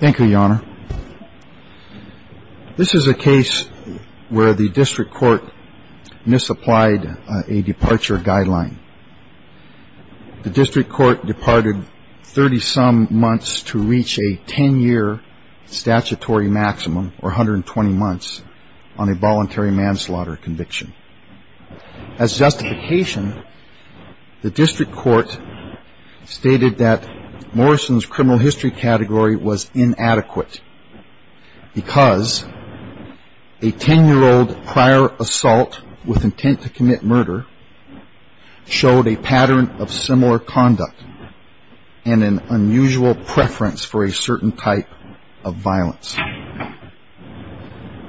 Thank you, Your Honor. This is a case where the district court misapplied a departure guideline. The district court departed 30-some months to reach a 10-year statutory maximum, or 120 months, on a voluntary manslaughter conviction. As justification, the district court stated that Morrison's criminal history category was inadequate because a 10-year-old prior assault with intent to commit murder showed a pattern of similar conduct and an unusual preference for a certain type of violence.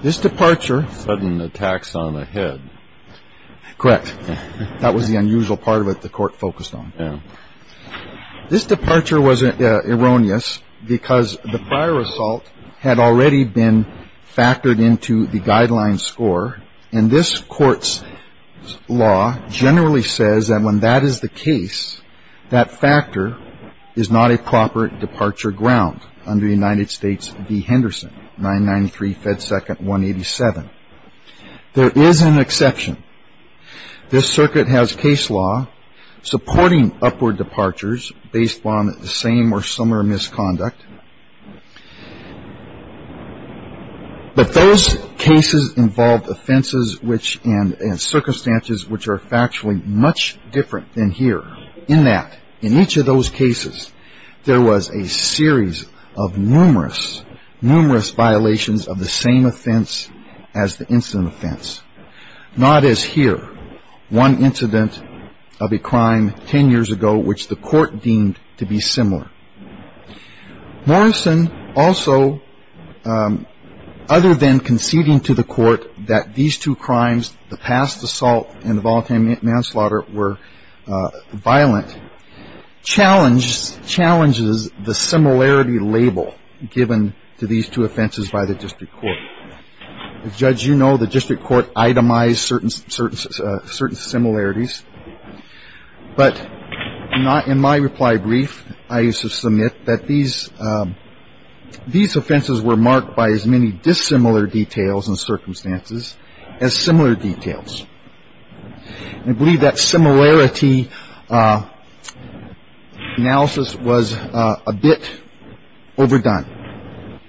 This departure was erroneous because the prior assault had already been factored into the guideline score, and this court's law generally says that when that is the case, that factor is not a proper departure ground under United States v. Henderson. There is an exception. This circuit has case law supporting upward departures based upon the same or similar misconduct, but those cases involve offenses and circumstances which are factually much different than here. In that, in each of those cases, there was a series of numerous, numerous violations of the same offense as the incident offense. Not as here, one incident of a crime 10 years ago which the court deemed to be similar. Morrison also, other than conceding to the court that these two crimes, the past assault and the voluntary manslaughter, were violent, challenges the similarity label given to these two offenses by the district court. As, Judge, you know, the district court itemized certain similarities, but in my reply brief, I used to submit that these offenses were marked by as many dissimilar details and circumstances as similar details. I believe that similarity analysis was a bit overdone,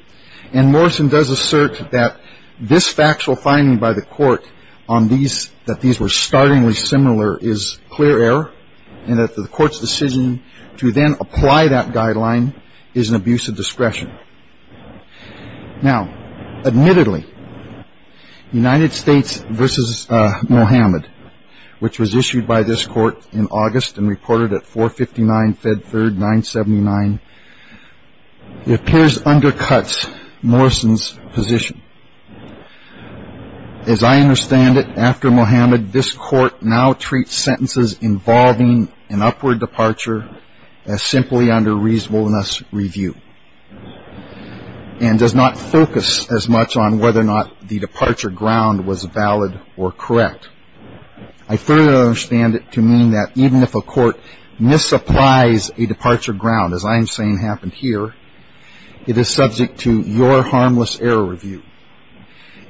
and Morrison does assert that this factual finding by the court on these, that these were startlingly similar, is clear error, and that the court's decision to then apply that guideline is an abuse of discretion. Now, admittedly, United States v. Mohammed, which was issued by this court in August and reported at 459 Fed 3rd 979, it appears undercuts Morrison's position. As I understand it, after Mohammed, this court now treats sentences involving an upward departure as simply under reasonableness review, and does not focus as much on whether or not the departure ground was valid or correct. I further understand it to mean that even if a court misapplies a departure ground, as I am saying happened here, it is subject to your harmless error review,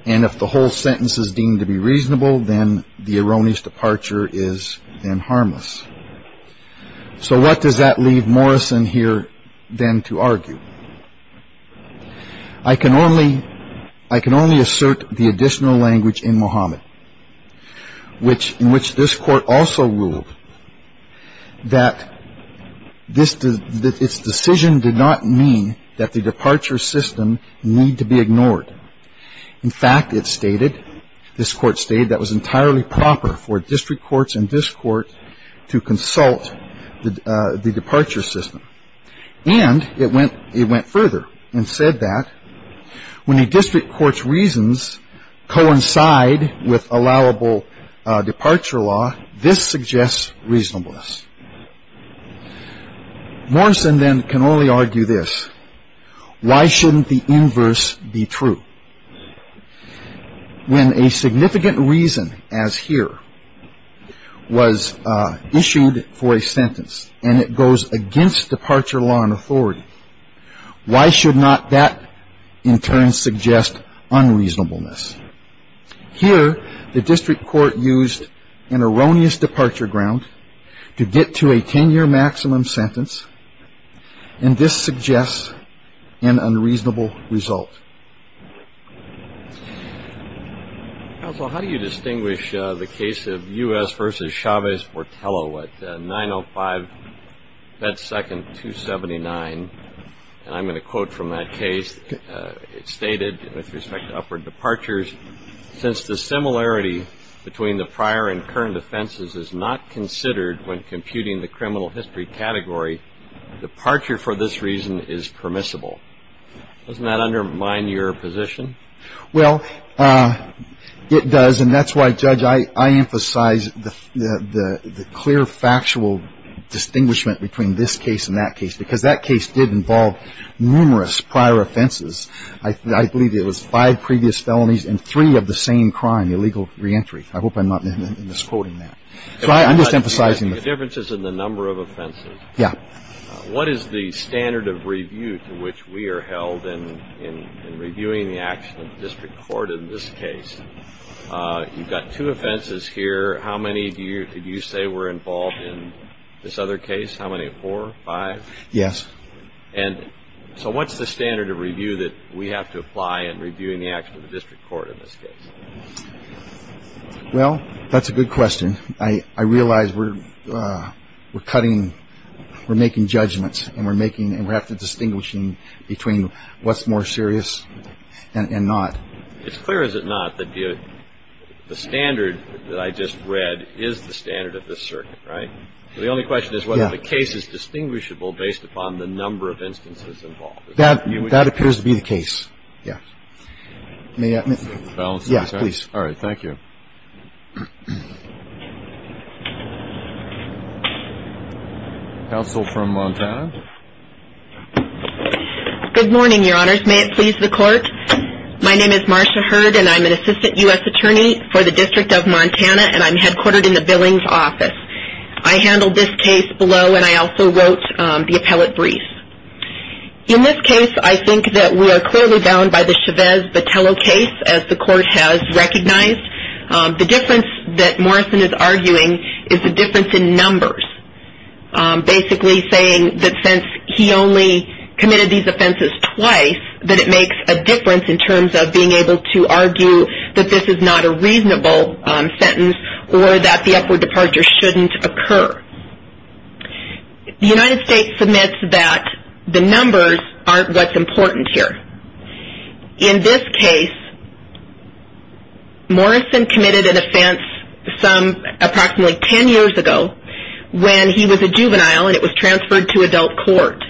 and if the whole sentence is deemed to be reasonable, then the erroneous departure is then harmless. So what does that leave Morrison here then to argue? I can only assert the additional language in Mohammed, in which this court also ruled that its decision did not mean that the departure system need to be ignored. In fact, it stated, this court stated, that it was entirely proper for district courts and this court to consult the departure system. And it went further and said that when a district court's reasons coincide with allowable departure law, this suggests reasonableness. Morrison then can only argue this, why shouldn't the inverse be true? When a significant reason, as here, was issued for a sentence, and it goes against departure law and authority, why should not that in turn suggest unreasonableness? Here, the district court used an erroneous departure ground to get to a 10-year maximum sentence, and this suggests an unreasonable result. Counsel, how do you distinguish the case of U.S. v. Chavez-Bortello at 905-279, and I'm going to quote from that case. It stated, with respect to upward departures, since the similarity between the prior and current offenses is not considered when computing the criminal history category, departure for this reason is permissible. Doesn't that undermine your position? Well, it does, and that's why, Judge, I emphasize the clear factual distinguishment between this case and that case, because that case did involve numerous prior offenses. I believe it was five previous felonies and three of the same crime, illegal reentry. I hope I'm not misquoting that. The difference is in the number of offenses. Yeah. What is the standard of review to which we are held in reviewing the action of the district court in this case? You've got two offenses here. How many did you say were involved in this other case, how many, four, five? Yes. And so what's the standard of review that we have to apply in reviewing the action of the district court in this case? Well, that's a good question. I realize we're cutting, we're making judgments and we're making and we have to distinguish between what's more serious and not. It's clear, is it not, that the standard that I just read is the standard of this circuit, right? The only question is whether the case is distinguishable based upon the number of instances involved. That appears to be the case. Yeah. May I? Yes, please. All right. Thank you. Counsel from Montana. Good morning, Your Honors. May it please the Court. My name is Marcia Hurd and I'm an Assistant U.S. Attorney for the District of Montana and I'm headquartered in the Billings Office. I handled this case below and I also wrote the appellate brief. In this case, I think that we are clearly bound by the Chavez-Battello case, as the Court has recognized. The difference that Morrison is arguing is the difference in numbers, basically saying that since he only committed these offenses twice, that it makes a difference in terms of being able to argue that this is not a reasonable sentence or that the upward departure shouldn't occur. The United States submits that the numbers aren't what's important here. In this case, Morrison committed an offense some approximately 10 years ago when he was a juvenile and it was transferred to adult court.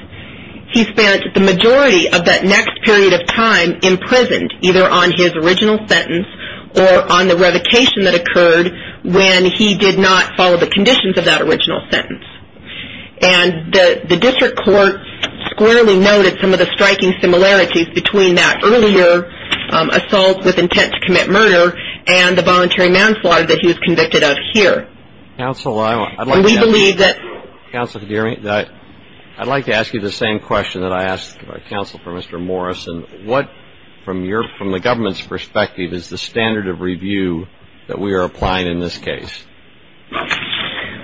He spent the majority of that next period of time imprisoned, either on his original sentence or on the revocation that occurred when he did not follow the conditions of that original sentence. And the District Court squarely noted some of the striking similarities between that earlier assault with intent to commit murder and the voluntary manslaughter that he was convicted of here. Counsel, I'd like to ask you the same question that I asked counsel for Mr. Morrison. What, from the government's perspective, is the standard of review that we are applying in this case?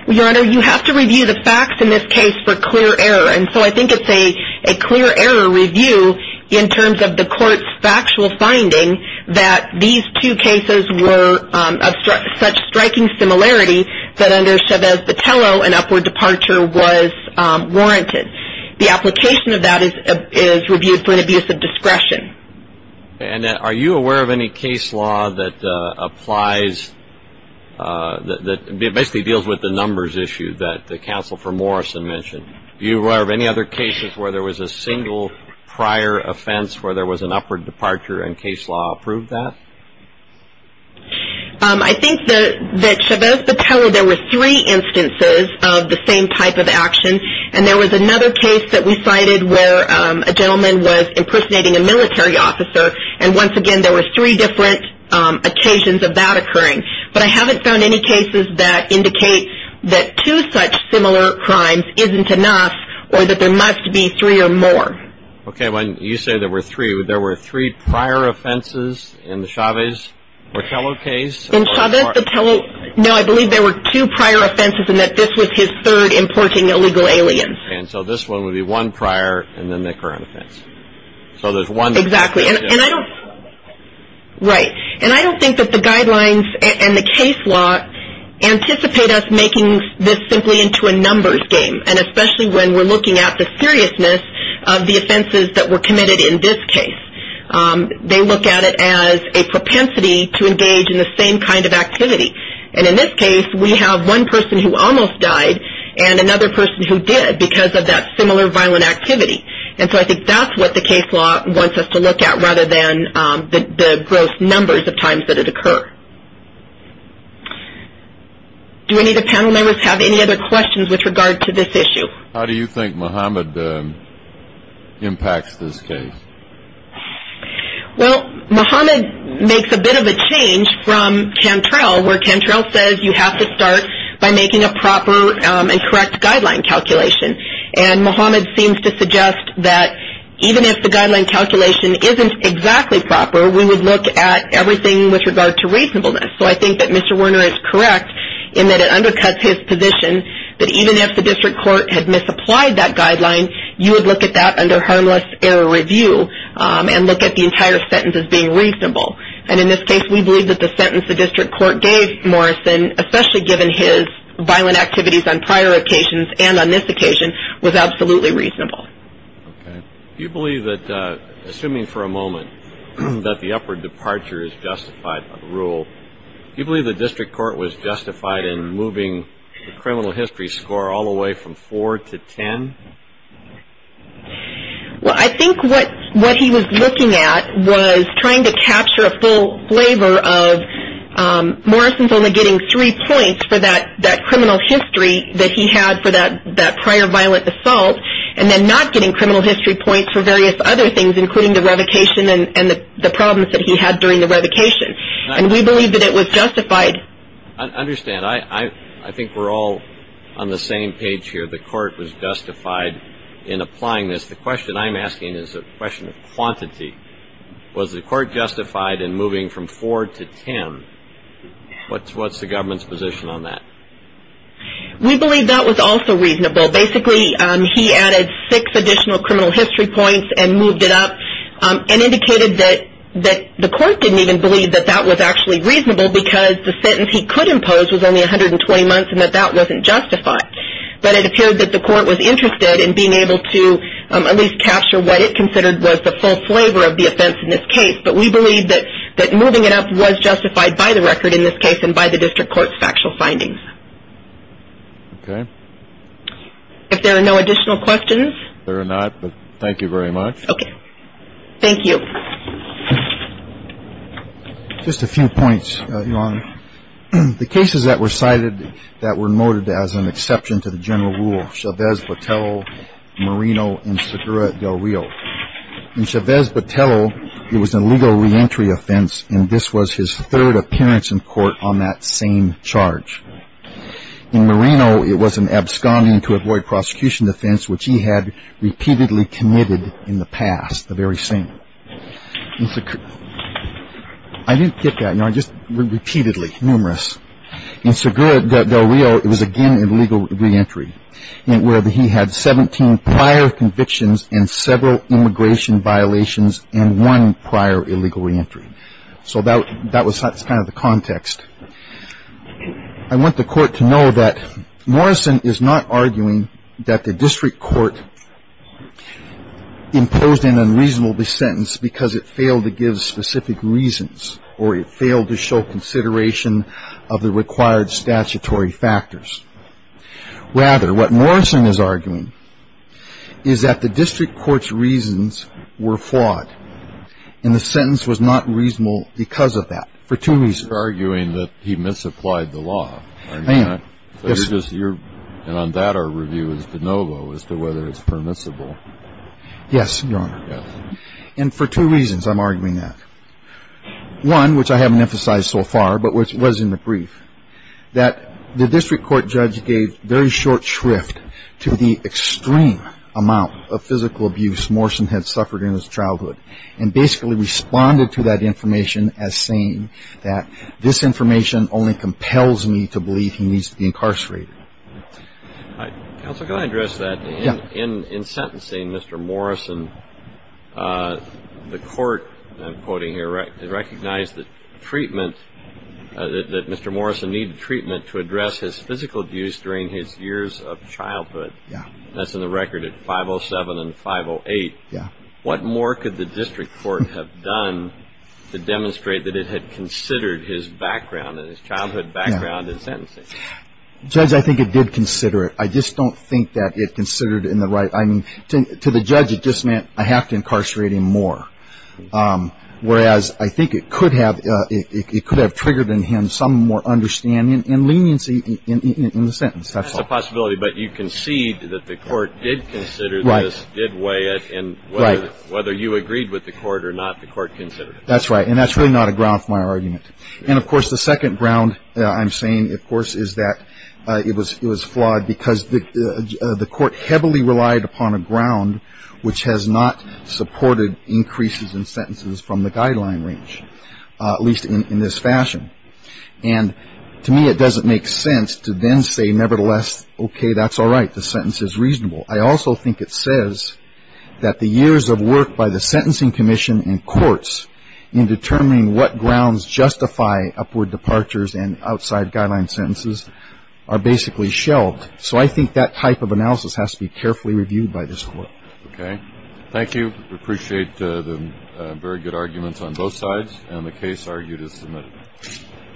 Your Honor, you have to review the facts in this case for clear error. And so I think it's a clear error review in terms of the Court's factual finding that these two cases were of such striking similarity that under Chavez-Battello, an upward departure was warranted. The application of that is reviewed for an abuse of discretion. And are you aware of any case law that applies, that basically deals with the numbers issue that the counsel for Morrison mentioned? Are you aware of any other cases where there was a single prior offense where there was an upward departure and case law approved that? I think that Chavez-Battello, there were three instances of the same type of action and there was another case that we cited where a gentleman was impersonating a military officer and once again there were three different occasions of that occurring. But I haven't found any cases that indicate that two such similar crimes isn't enough or that there must be three or more. Okay, when you say there were three, there were three prior offenses in the Chavez-Battello case? In Chavez-Battello, no, I believe there were two prior offenses and that this was his third importing illegal aliens. And so this one would be one prior and then the current offense. So there's one. Exactly. And I don't think that the guidelines and the case law anticipate us making this simply into a numbers game and especially when we're looking at the seriousness of the offenses that were committed in this case. They look at it as a propensity to engage in the same kind of activity. And in this case, we have one person who almost died and another person who did because of that similar violent activity. And so I think that's what the case law wants us to look at rather than the gross numbers of times that it occurred. Do any of the panel members have any other questions with regard to this issue? How do you think Mohammed impacts this case? Well, Mohammed makes a bit of a change from Cantrell, where Cantrell says you have to start by making a proper and correct guideline calculation. And Mohammed seems to suggest that even if the guideline calculation isn't exactly proper, we would look at everything with regard to reasonableness. So I think that Mr. Werner is correct in that it undercuts his position that even if the district court had misapplied that guideline, you would look at that under harmless error review and look at the entire sentence as being reasonable. And in this case, we believe that the sentence the district court gave Morrison, especially given his violent activities on prior occasions and on this occasion, was absolutely reasonable. Okay. Do you believe that, assuming for a moment, that the upward departure is justified by the rule, do you believe the district court was justified in moving the criminal history score all the way from 4 to 10? Well, I think what he was looking at was trying to capture a full flavor of Morrison's only getting three points for that criminal history that he had for that prior violent assault and then not getting criminal history points for various other things, including the revocation and the problems that he had during the revocation. And we believe that it was justified. I understand. I think we're all on the same page here. The court was justified in applying this. The question I'm asking is a question of quantity. Was the court justified in moving from 4 to 10? What's the government's position on that? We believe that was also reasonable. Basically, he added six additional criminal history points and moved it up and indicated that the court didn't even believe that that was actually reasonable because the sentence he could impose was only 120 months and that that wasn't justified. But it appeared that the court was interested in being able to at least capture what it considered was the full flavor of the offense in this case. But we believe that moving it up was justified by the record in this case and by the district court's factual findings. Okay. If there are no additional questions? There are not. But thank you very much. Okay. Thank you. Just a few points, Your Honor. The cases that were cited that were noted as an exception to the general rule, Chavez-Botelho, Marino, and Segura del Rio. In Chavez-Botelho, it was an illegal reentry offense, and this was his third appearance in court on that same charge. In Marino, it was an absconding to avoid prosecution defense, which he had repeatedly committed in the past, the very same. I didn't get that, Your Honor, just repeatedly, numerous. In Segura del Rio, it was, again, an illegal reentry, where he had 17 prior convictions and several immigration violations and one prior illegal reentry. So that was kind of the context. I want the Court to know that Morrison is not arguing that the district court imposed an unreasonable sentence because it failed to give specific reasons or it failed to show consideration of the required statutory factors. Rather, what Morrison is arguing is that the district court's reasons were flawed and the sentence was not reasonable because of that for two reasons. So you're just arguing that he misapplied the law, are you not? I am. And on that, our review is de novo as to whether it's permissible. Yes, Your Honor. Yes. And for two reasons I'm arguing that. One, which I haven't emphasized so far but which was in the brief, that the district court judge gave very short shrift to the extreme amount of physical abuse Morrison had suffered in his childhood and basically responded to that information as saying that this information only compels me to believe he needs to be incarcerated. Counsel, can I address that? Yes. In sentencing, Mr. Morrison, the Court, I'm quoting here, recognized that Mr. Morrison needed treatment to address his physical abuse during his years of childhood. Yes. That's in the record at 507 and 508. Yes. And what more could the district court have done to demonstrate that it had considered his background and his childhood background in sentencing? Judge, I think it did consider it. I just don't think that it considered in the right. I mean, to the judge it just meant I have to incarcerate him more, whereas I think it could have triggered in him some more understanding and leniency in the sentence. That's a possibility, but you concede that the court did consider this, did weigh it, and whether you agreed with the court or not, the court considered it. That's right, and that's really not a ground for my argument. And, of course, the second ground I'm saying, of course, is that it was flawed because the court heavily relied upon a ground which has not supported increases in sentences from the guideline range, at least in this fashion. And to me it doesn't make sense to then say, nevertheless, okay, that's all right, the sentence is reasonable. I also think it says that the years of work by the Sentencing Commission and courts in determining what grounds justify upward departures and outside guideline sentences are basically shelved. So I think that type of analysis has to be carefully reviewed by this court. Okay. Thank you. We appreciate the very good arguments on both sides, and the case argued is submitted.